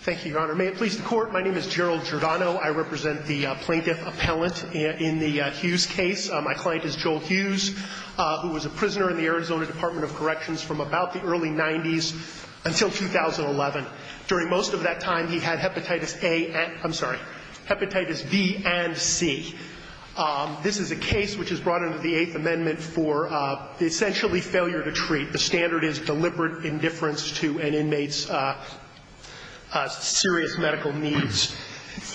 Thank you, Your Honor. May it please the Court, my name is Gerald Giordano. I represent the plaintiff-appellant in the Hughes case. My client is Joel Hughes, who was a prisoner in the Arizona Department of Corrections from about the early 90s until 2011. During most of that time, he had hepatitis A, I'm sorry, hepatitis B and C. This is a case which is brought under the Eighth Amendment for essentially failure to treat. The standard is deliberate indifference to an inmate's serious medical needs.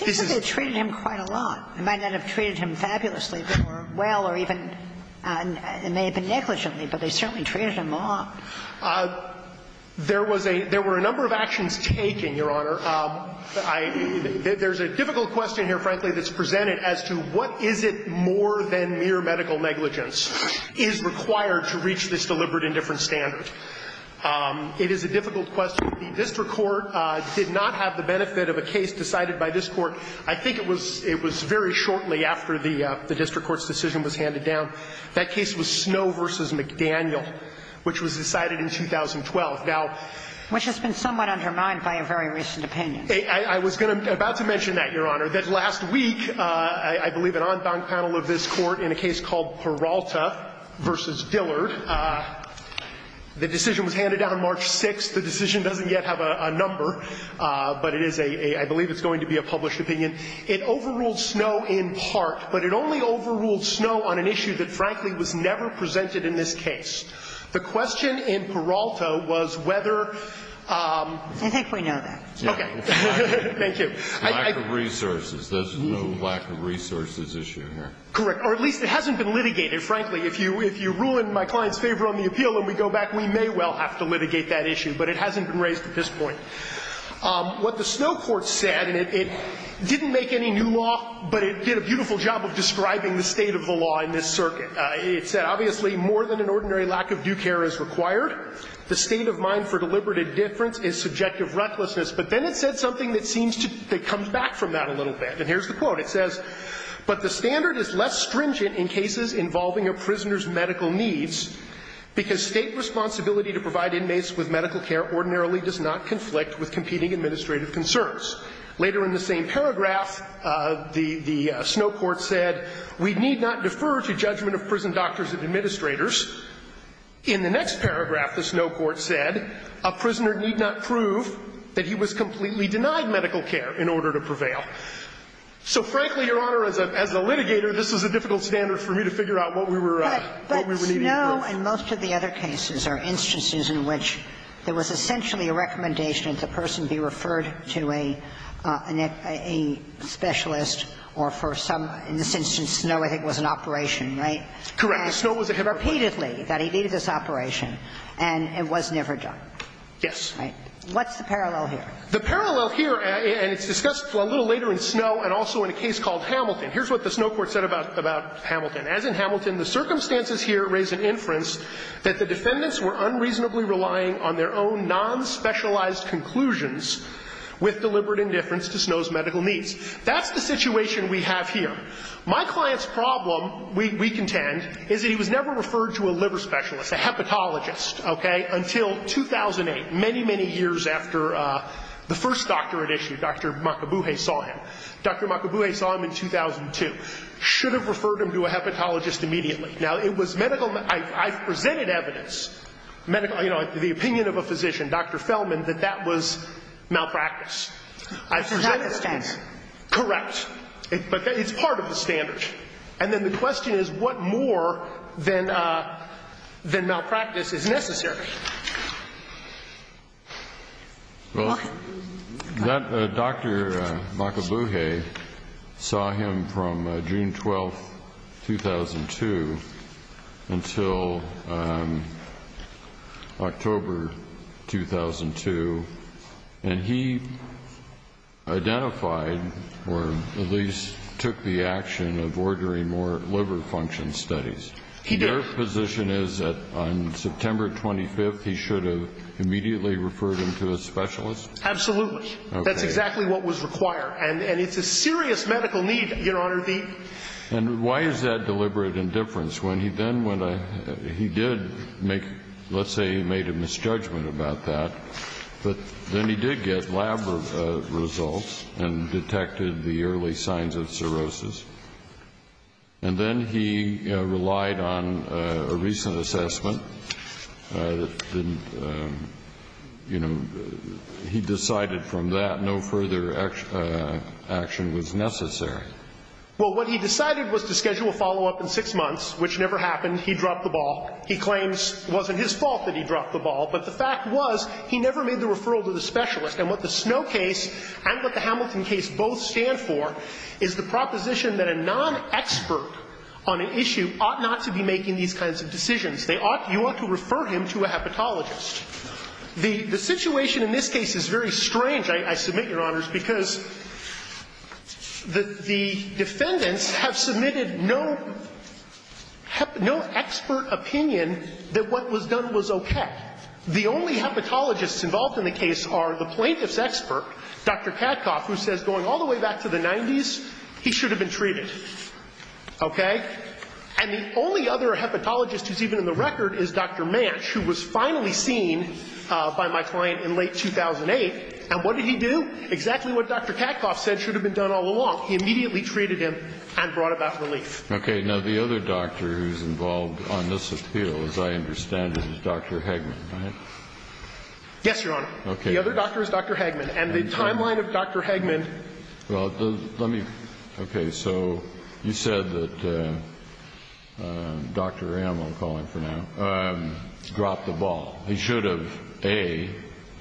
This is — It seems that they treated him quite a lot. They might not have treated him fabulously or well or even — it may have been negligently, but they certainly treated him a lot. There was a — there were a number of actions taken, Your Honor. I — there's a difficult question here, frankly, that's presented as to what is it more than mere medical negligence is required to reach this deliberate indifference standard. It is a difficult question. The district court did not have the benefit of a case decided by this Court. I think it was — it was very shortly after the district court's decision was handed down. That case was Snow v. McDaniel, which was decided in 2012. Now — Which has been somewhat undermined by a very recent opinion. I was going to — about to mention that, Your Honor, that last week, I believe, an en banc panel of this Court in a case called Peralta v. Dillard. The decision was handed down on March 6th. The decision doesn't yet have a number, but it is a — I believe it's going to be a published opinion. It overruled Snow in part, but it only overruled Snow on an issue that, frankly, was never presented in this case. The question in Peralta was whether — I think we know that. Okay. Thank you. Lack of resources. There's no lack of resources issue here. Correct. Or at least it hasn't been litigated, frankly. If you ruin my client's favor on the appeal and we go back, we may well have to litigate that issue, but it hasn't been raised at this point. What the Snow court said, and it didn't make any new law, but it did a beautiful job of describing the state of the law in this circuit. It said, Obviously, more than an ordinary lack of due care is required. The state of mind for deliberate indifference is subjective recklessness. But then it said something that seems to — that comes back from that a little bit. And here's the quote. It says, But the standard is less stringent in cases involving a prisoner's medical needs, because State responsibility to provide inmates with medical care ordinarily does not conflict with competing administrative concerns. Later in the same paragraph, the Snow court said, We need not defer to judgment of prison doctors and administrators. In the next paragraph, the Snow court said, A prisoner need not prove that he was completely denied medical care in order to prevail. So, frankly, Your Honor, as a litigator, this was a difficult standard for me to figure out what we were needing to prove. But Snow and most of the other cases are instances in which there was essentially a recommendation that the person be referred to a specialist or for some — in this instance, Snow, I think, was in operation, right? Correct. Snow was at Hamilton. Repeatedly, that he needed this operation. And it was never done. Yes. What's the parallel here? The parallel here, and it's discussed a little later in Snow and also in a case called Hamilton. Here's what the Snow court said about Hamilton. As in Hamilton, The circumstances here raise an inference that the defendants were unreasonably relying on their own non-specialized conclusions with deliberate indifference to Snow's medical needs. That's the situation we have here. My client's problem, we contend, is that he was never referred to a liver specialist, a hepatologist, okay, until 2008, many, many years after the first doctor at issue, Dr. Makabuhe, saw him. Dr. Makabuhe saw him in 2002. Should have referred him to a hepatologist immediately. Now, it was medical, I presented evidence, medical, you know, the opinion of a physician, Dr. Feldman, that that was malpractice. It's not the standard. Correct. But it's part of the standard. And then the question is, what more than malpractice is necessary? Well, Dr. Makabuhe saw him from June 12th, 2002, until October 2002, and he identified or at least took the action of ordering more liver function studies. He did. My position is that on September 25th, he should have immediately referred him to a specialist? Absolutely. Okay. That's exactly what was required. And it's a serious medical need, Your Honor. And why is that deliberate indifference? When he then, when he did make, let's say he made a misjudgment about that, but then he did get lab results and detected the early signs of cirrhosis. And then he relied on a recent assessment that didn't, you know, he decided from that no further action was necessary. Well, what he decided was to schedule a follow-up in six months, which never happened. He dropped the ball. He claims it wasn't his fault that he dropped the ball, but the fact was he never made the referral to the specialist. And what the Snow case and what the Hamilton case both stand for is the proposition that a non-expert on an issue ought not to be making these kinds of decisions. They ought, you ought to refer him to a hepatologist. The situation in this case is very strange, I submit, Your Honors, because the defendants have submitted no expert opinion that what was done was okay. The only hepatologists involved in the case are the plaintiff's expert, Dr. Katkoff, who says going all the way back to the 90s, he should have been treated. Okay? And the only other hepatologist who's even in the record is Dr. Mance, who was finally seen by my client in late 2008. And what did he do? Exactly what Dr. Katkoff said should have been done all along. He immediately treated him and brought about relief. Okay. Now, the other doctor who's involved on this appeal, as I understand it, is Dr. Hagman, right? Yes, Your Honor. Okay. The other doctor is Dr. Hagman. And the timeline of Dr. Hagman. Well, let me – okay. So you said that Dr. M, I'll call him for now, dropped the ball. He should have, A,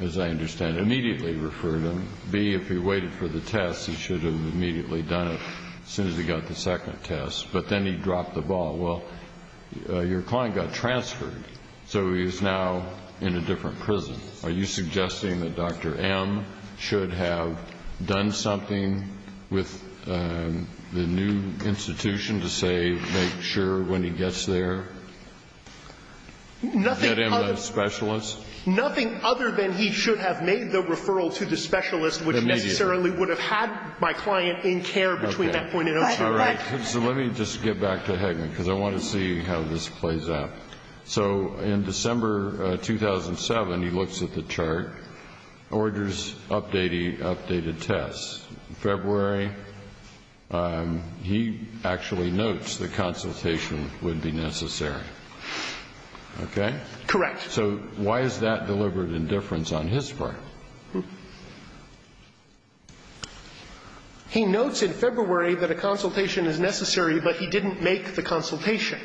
as I understand, immediately referred him. B, if he waited for the test, he should have immediately done it as soon as he got the second test, but then he dropped the ball. Well, your client got transferred, so he's now in a different prison. Are you suggesting that Dr. M should have done something with the new institution to say, make sure when he gets there, get him a specialist? Nothing other than he should have made the referral to the specialist, which necessarily would have had my client in care between that point in time. All right. So let me just get back to Hagman, because I want to see how this plays out. So in December 2007, he looks at the chart, orders updated tests. In February, he actually notes the consultation would be necessary. Okay? Correct. So why is that deliberate indifference on his part? He notes in February that a consultation is necessary, but he didn't make the consultation.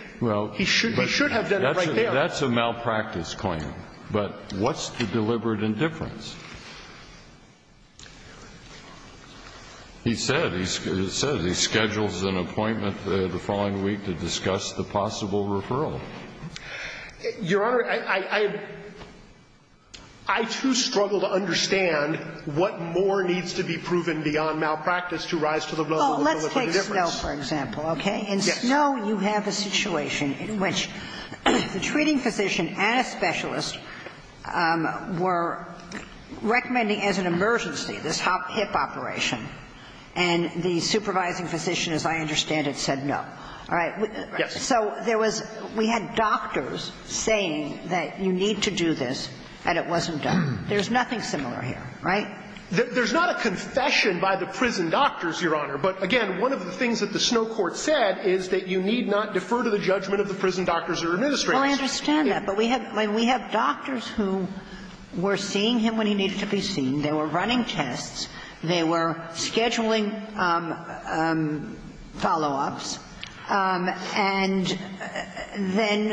He should have done it right there. That's a malpractice claim. But what's the deliberate indifference? He said, he said he schedules an appointment the following week to discuss the possible referral. Your Honor, I too struggle to understand what more needs to be proven beyond malpractice to rise to the level of deliberate indifference. Oh, let's take Snow, for example, okay? In Snow, you have a situation in which the treating physician and a specialist were recommending as an emergency this hip operation, and the supervising physician, as I understand it, said no. Yes. So there was we had doctors saying that you need to do this, and it wasn't done. There's nothing similar here, right? There's not a confession by the prison doctors, Your Honor. But again, one of the things that the Snow court said is that you need not defer to the judgment of the prison doctors or administrators. Well, I understand that. But we have doctors who were seeing him when he needed to be seen. They were running tests. They were scheduling follow-ups. And then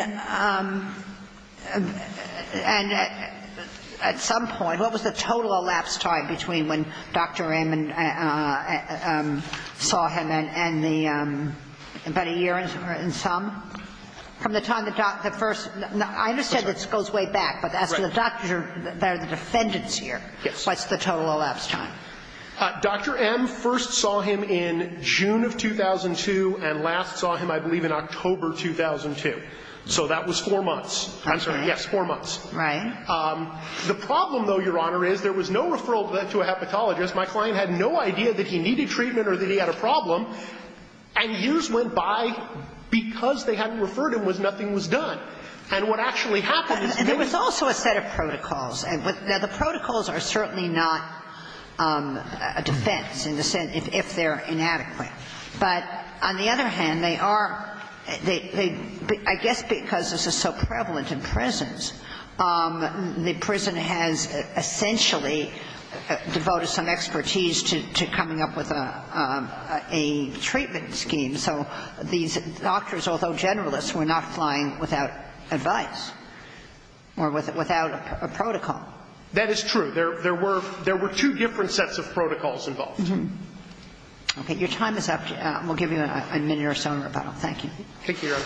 at some point, what was the total elapsed time between when Dr. M saw him and the about a year and some? From the time the first I understand this goes way back. Correct. But as to the doctor or the defendant's year, what's the total elapsed time? Dr. M first saw him in June of 2002, and last saw him, I believe, in October 2002. So that was four months. I'm sorry. Yes, four months. Right. The problem, though, Your Honor, is there was no referral to a hepatologist. My client had no idea that he needed treatment or that he had a problem, and years went by because they hadn't referred him, nothing was done. And what actually happened is that there was also a set of protocols. Now, the protocols are certainly not a defense if they're inadequate. But on the other hand, they are, I guess because this is so prevalent in prisons, the prison has essentially devoted some expertise to coming up with a treatment scheme. So these doctors, although generalists, were not flying without advice or without a protocol. That is true. There were two different sets of protocols involved. Okay. Your time is up. We'll give you a minute or so in rebuttal. Thank you. Thank you, Your Honor.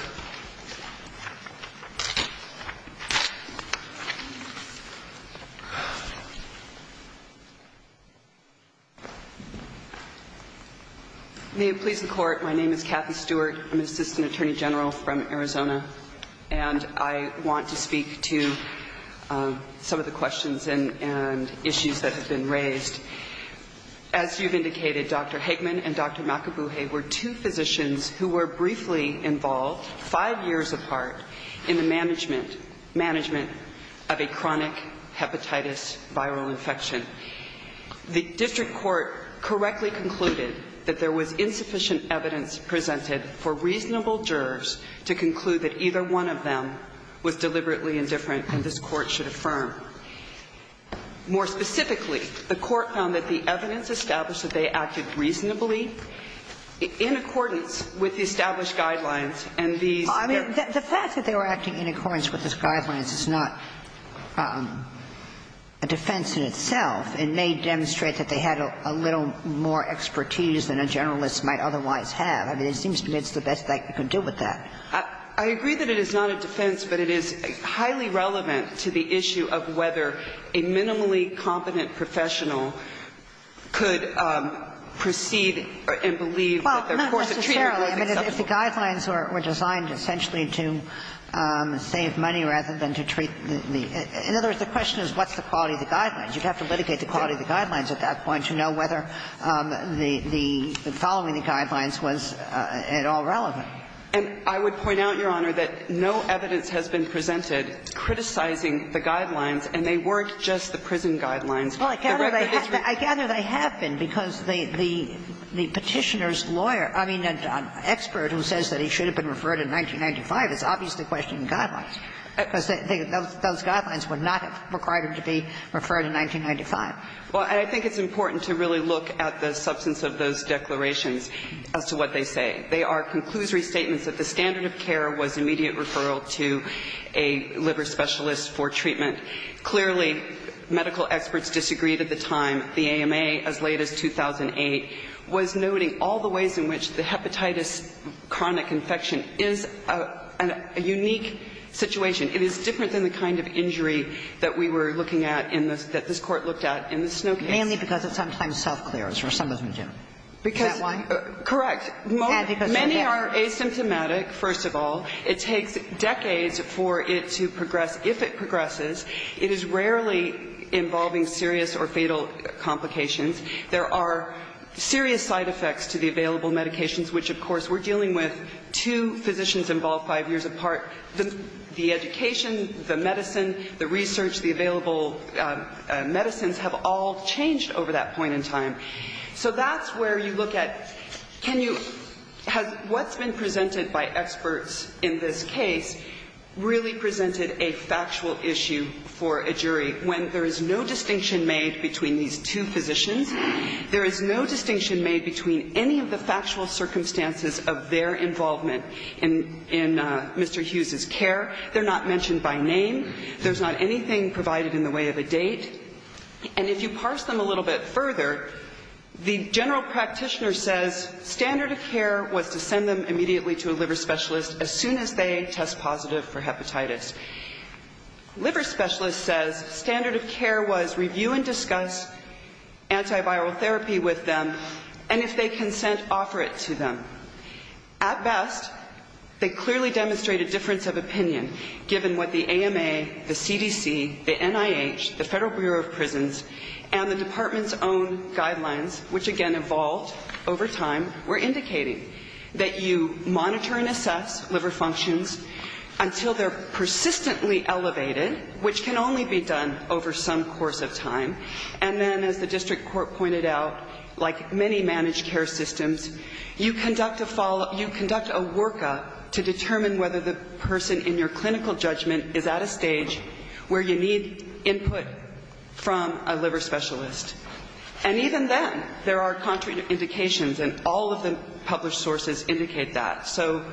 May it please the Court. My name is Kathy Stewart. I'm an assistant attorney general from Arizona. And I want to speak to some of the questions and issues that have been raised. As you've indicated, Dr. Hageman and Dr. Makabuhe were two physicians who were briefly involved, five years apart, in the management of a chronic hepatitis viral infection. The district court correctly concluded that there was insufficient evidence presented for reasonable jurors to conclude that either one of them was deliberately indifferent and this Court should affirm. More specifically, the Court found that the evidence established that they acted reasonably in accordance with the established guidelines, and these were not. The fact that they were acting in accordance with these guidelines is not a defense in itself. It may demonstrate that they had a little more expertise than a generalist might otherwise have. I mean, it seems to me it's the best that you can do with that. I agree that it is not a defense, but it is highly relevant to the issue of whether a minimally competent professional could proceed and believe that their course of treatment was acceptable. Well, not necessarily. I mean, if the guidelines were designed essentially to save money rather than to treat the – in other words, the question is what's the quality of the guidelines. You'd have to litigate the quality of the guidelines at that point to know whether the following the guidelines was at all relevant. And I would point out, Your Honor, that no evidence has been presented criticizing the guidelines, and they weren't just the prison guidelines. Well, I gather they have been, because the Petitioner's lawyer – I mean, an expert who says that he should have been referred in 1995, it's obviously a question of guidelines, because those guidelines would not have required him to be referred in 1995. Well, and I think it's important to really look at the substance of those declarations as to what they say. They are conclusory statements that the standard of care was immediate referral to a liver specialist for treatment. Clearly, medical experts disagreed at the time. The AMA, as late as 2008, was noting all the ways in which the hepatitis chronic infection is a unique situation. It is different than the kind of injury that we were looking at in the – that this Court looked at in the Snow case. Mainly because it sometimes self-clears, or some of them do. Is that why? Correct. Many are asymptomatic, first of all. It takes decades for it to progress. If it progresses, it is rarely involving serious or fatal complications. There are serious side effects to the available medications, which, of course, we're dealing with two physicians involved five years apart. The education, the medicine, the research, the available medicines have all changed over that point in time. So that's where you look at can you – has what's been presented by experts in this case really presented a factual issue for a jury when there is no distinction made between these two physicians, there is no distinction made between any of the cases of their involvement in Mr. Hughes's care. They're not mentioned by name. There's not anything provided in the way of a date. And if you parse them a little bit further, the general practitioner says standard of care was to send them immediately to a liver specialist as soon as they test positive for hepatitis. Liver specialist says standard of care was review and discuss antiviral therapy with them, and if they consent, offer it to them. At best, they clearly demonstrate a difference of opinion, given what the AMA, the CDC, the NIH, the Federal Bureau of Prisons, and the department's own guidelines, which, again, evolved over time, were indicating that you monitor and assess liver functions until they're persistently elevated, which can only be done over some course of time. And then, as the district court pointed out, like many managed care systems, you conduct a follow-up, you conduct a workup to determine whether the person in your clinical judgment is at a stage where you need input from a liver specialist. And even then, there are contrary indications, and all of the published sources indicate that. So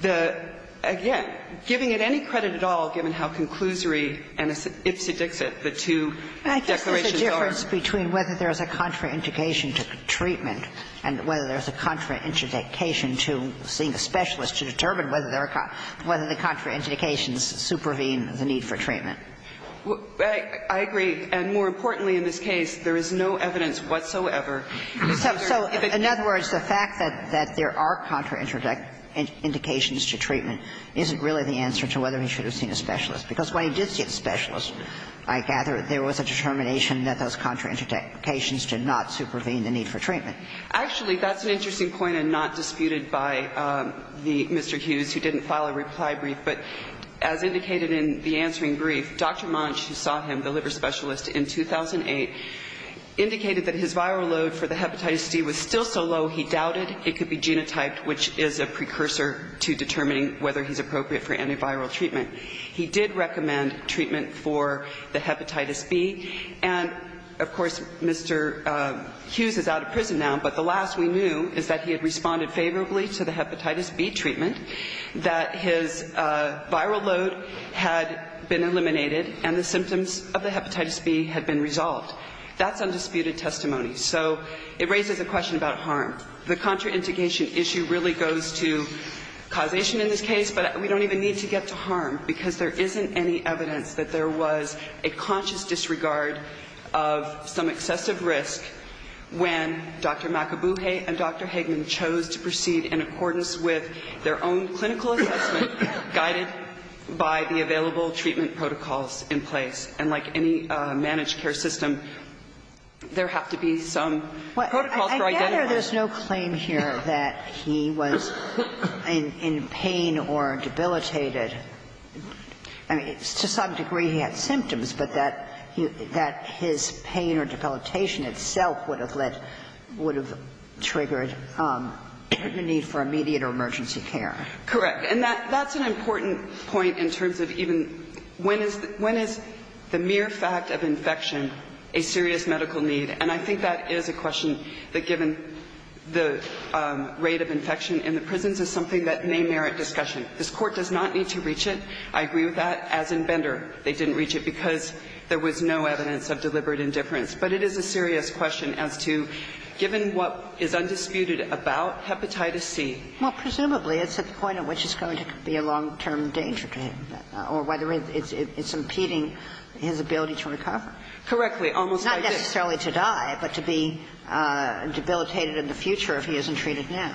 the, again, giving it any credit at all, given how conclusory and ipsedixit the two declarations are. I guess there's a difference between whether there's a contraindication to treatment and whether there's a contraindication to seeing a specialist to determine whether the contraindications supervene the need for treatment. I agree. And more importantly in this case, there is no evidence whatsoever. So in other words, the fact that there are contraindications to treatment isn't really the answer to whether he should have seen a specialist, because when he did see a specialist, I gather there was a determination that those contraindications did not supervene the need for treatment. Actually, that's an interesting point, and not disputed by Mr. Hughes, who didn't file a reply brief. But as indicated in the answering brief, Dr. Monsch, who saw him, the liver specialist, in 2008, indicated that his viral load for the hepatitis D was still so low, he doubted it could be genotyped, which is a precursor to determining whether he's appropriate for antiviral treatment. He did recommend treatment for the hepatitis B. And, of course, Mr. Hughes is out of prison now, but the last we knew is that he had responded favorably to the hepatitis B treatment, that his viral load had been eliminated and the symptoms of the hepatitis B had been resolved. That's undisputed testimony. So it raises a question about harm. The contraindication issue really goes to causation in this case, but we don't even need to get to harm, because there isn't any evidence that there was a conscious disregard of some excessive risk when Dr. Makabuhe and Dr. Hagman chose to proceed in accordance with their own clinical assessment guided by the available treatment protocols in place. And like any managed care system, there have to be some protocols for identifying it. And there's no claim here that he was in pain or debilitated. I mean, to some degree he had symptoms, but that his pain or debilitation itself would have led to, would have triggered a need for immediate or emergency care. Correct. And that's an important point in terms of even when is the mere fact of infection a serious medical need? And I think that is a question that, given the rate of infection in the prisons, is something that may merit discussion. This Court does not need to reach it. I agree with that. As in Bender, they didn't reach it because there was no evidence of deliberate indifference. But it is a serious question as to, given what is undisputed about hepatitis C. Well, presumably it's at the point at which it's going to be a long-term danger to him, or whether it's impeding his ability to recover. Correctly. Almost like this. Not necessarily to die, but to be debilitated in the future if he isn't treated now.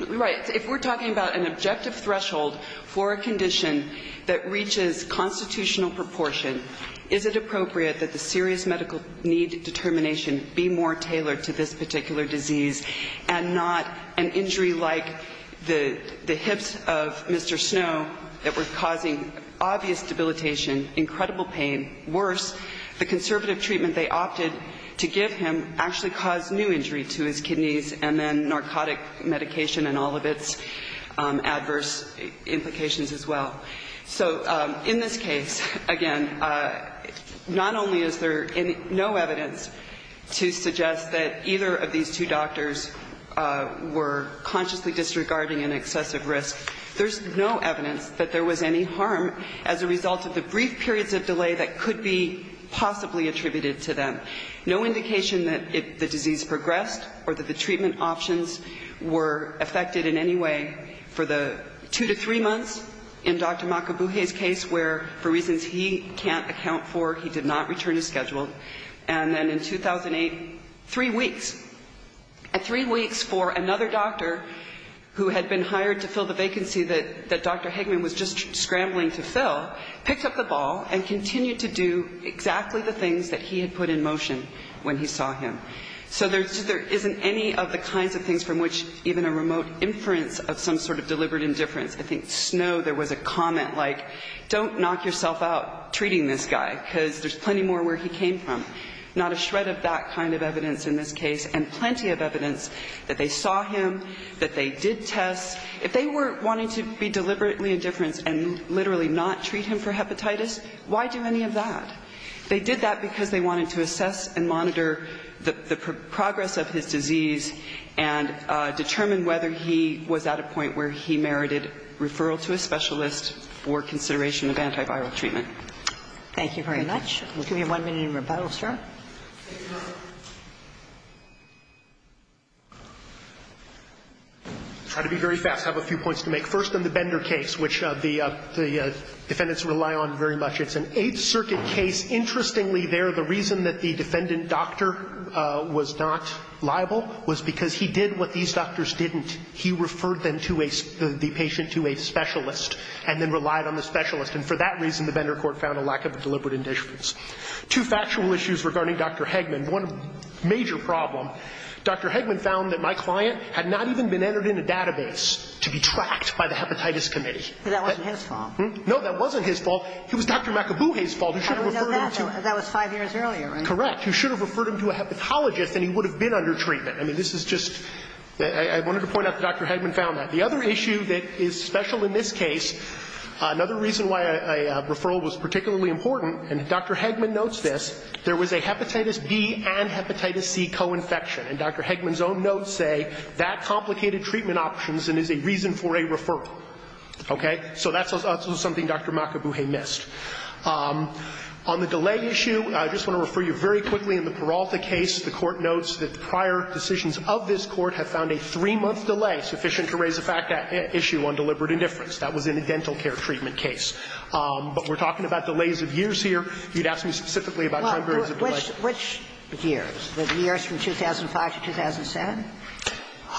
Right. If we're talking about an objective threshold for a condition that reaches constitutional proportion, is it appropriate that the serious medical need determination be more tailored to this particular disease and not an injury like the hips of Mr. Snow that were causing obvious debilitation, incredible pain, worse, the conservative treatment they opted to give him actually caused new injury to his kidneys and then narcotic medication and all of its adverse implications as well? So in this case, again, not only is there no evidence to suggest that either of these two doctors were consciously disregarding an excessive risk, there's no evidence that there was any harm as a result of the brief periods of delay that could be possibly attributed to them. No indication that the disease progressed or that the treatment options were affected in any way for the two to three months in Dr. Makabuhe's case where, for reasons he can't account for, he did not return to schedule. And then in 2008, three weeks. And three weeks for another doctor who had been hired to fill the vacancy that Dr. So there isn't any of the kinds of things from which even a remote inference of some sort of deliberate indifference. I think Snow, there was a comment like, don't knock yourself out treating this guy, because there's plenty more where he came from. Not a shred of that kind of evidence in this case. And plenty of evidence that they saw him, that they did tests. If they were wanting to be deliberately indifference and literally not treat him for as long as they wanted to assess and monitor the progress of his disease and determine whether he was at a point where he merited referral to a specialist or consideration of antiviral treatment. Thank you very much. We'll give you one minute in rebuttal, sir. I'll try to be very fast, have a few points to make. First on the Bender case, which the defendants rely on very much. It's an Eighth Circuit case. Interestingly there, the reason that the defendant doctor was not liable was because he did what these doctors didn't. He referred them to a, the patient to a specialist and then relied on the specialist. And for that reason, the Bender court found a lack of deliberate indifference. Two factual issues regarding Dr. Hegman. One major problem, Dr. Hegman found that my client had not even been entered in a database to be tracked by the Hepatitis Committee. But that wasn't his fault. No, that wasn't his fault. It was Dr. McAboohey's fault. How do we know that? That was five years earlier, right? Correct. You should have referred him to a hepatologist and he would have been under treatment. I mean, this is just, I wanted to point out that Dr. Hegman found that. The other issue that is special in this case, another reason why a referral was particularly important, and Dr. Hegman notes this, there was a Hepatitis B and Hepatitis C co-infection. And Dr. Hegman's own notes say that complicated treatment options and is a reason for a referral. Okay? So that's also something Dr. McAboohey missed. On the delay issue, I just want to refer you very quickly in the Peralta case. The Court notes that the prior decisions of this Court have found a three-month delay sufficient to raise the fact that issue on deliberate indifference. That was in the dental care treatment case. But we're talking about delays of years here. You'd ask me specifically about time periods of delay. Well, which years? The years from 2005 to 2007?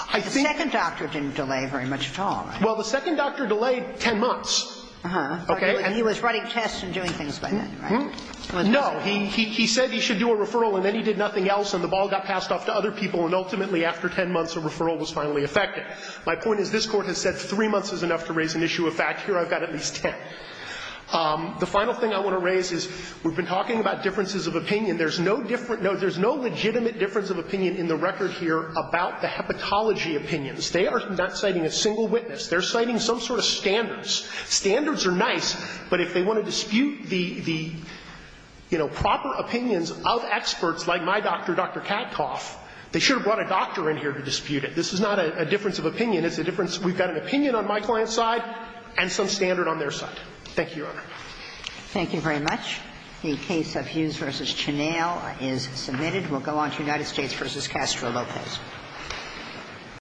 I think the second doctor didn't delay very much at all, right? Well, the second doctor delayed 10 months. Okay? And he was writing tests and doing things by then, right? No. He said he should do a referral, and then he did nothing else, and the ball got passed off to other people, and ultimately, after 10 months, a referral was finally effected. My point is this Court has said three months is enough to raise an issue of fact. Here I've got at least 10. The final thing I want to raise is we've been talking about differences of opinion. There's no different note. There's no legitimate difference of opinion in the record here about the hepatology opinions. They are not citing a single witness. They're citing some sort of standards. Standards are nice. But if they want to dispute the, you know, proper opinions of experts like my doctor, Dr. Kattoff, they should have brought a doctor in here to dispute it. This is not a difference of opinion. It's a difference. We've got an opinion on my client's side and some standard on their side. Thank you, Your Honor. Thank you very much. The case of Hughes v. Chennail is submitted. We'll go on to United States v. Castro Lopez.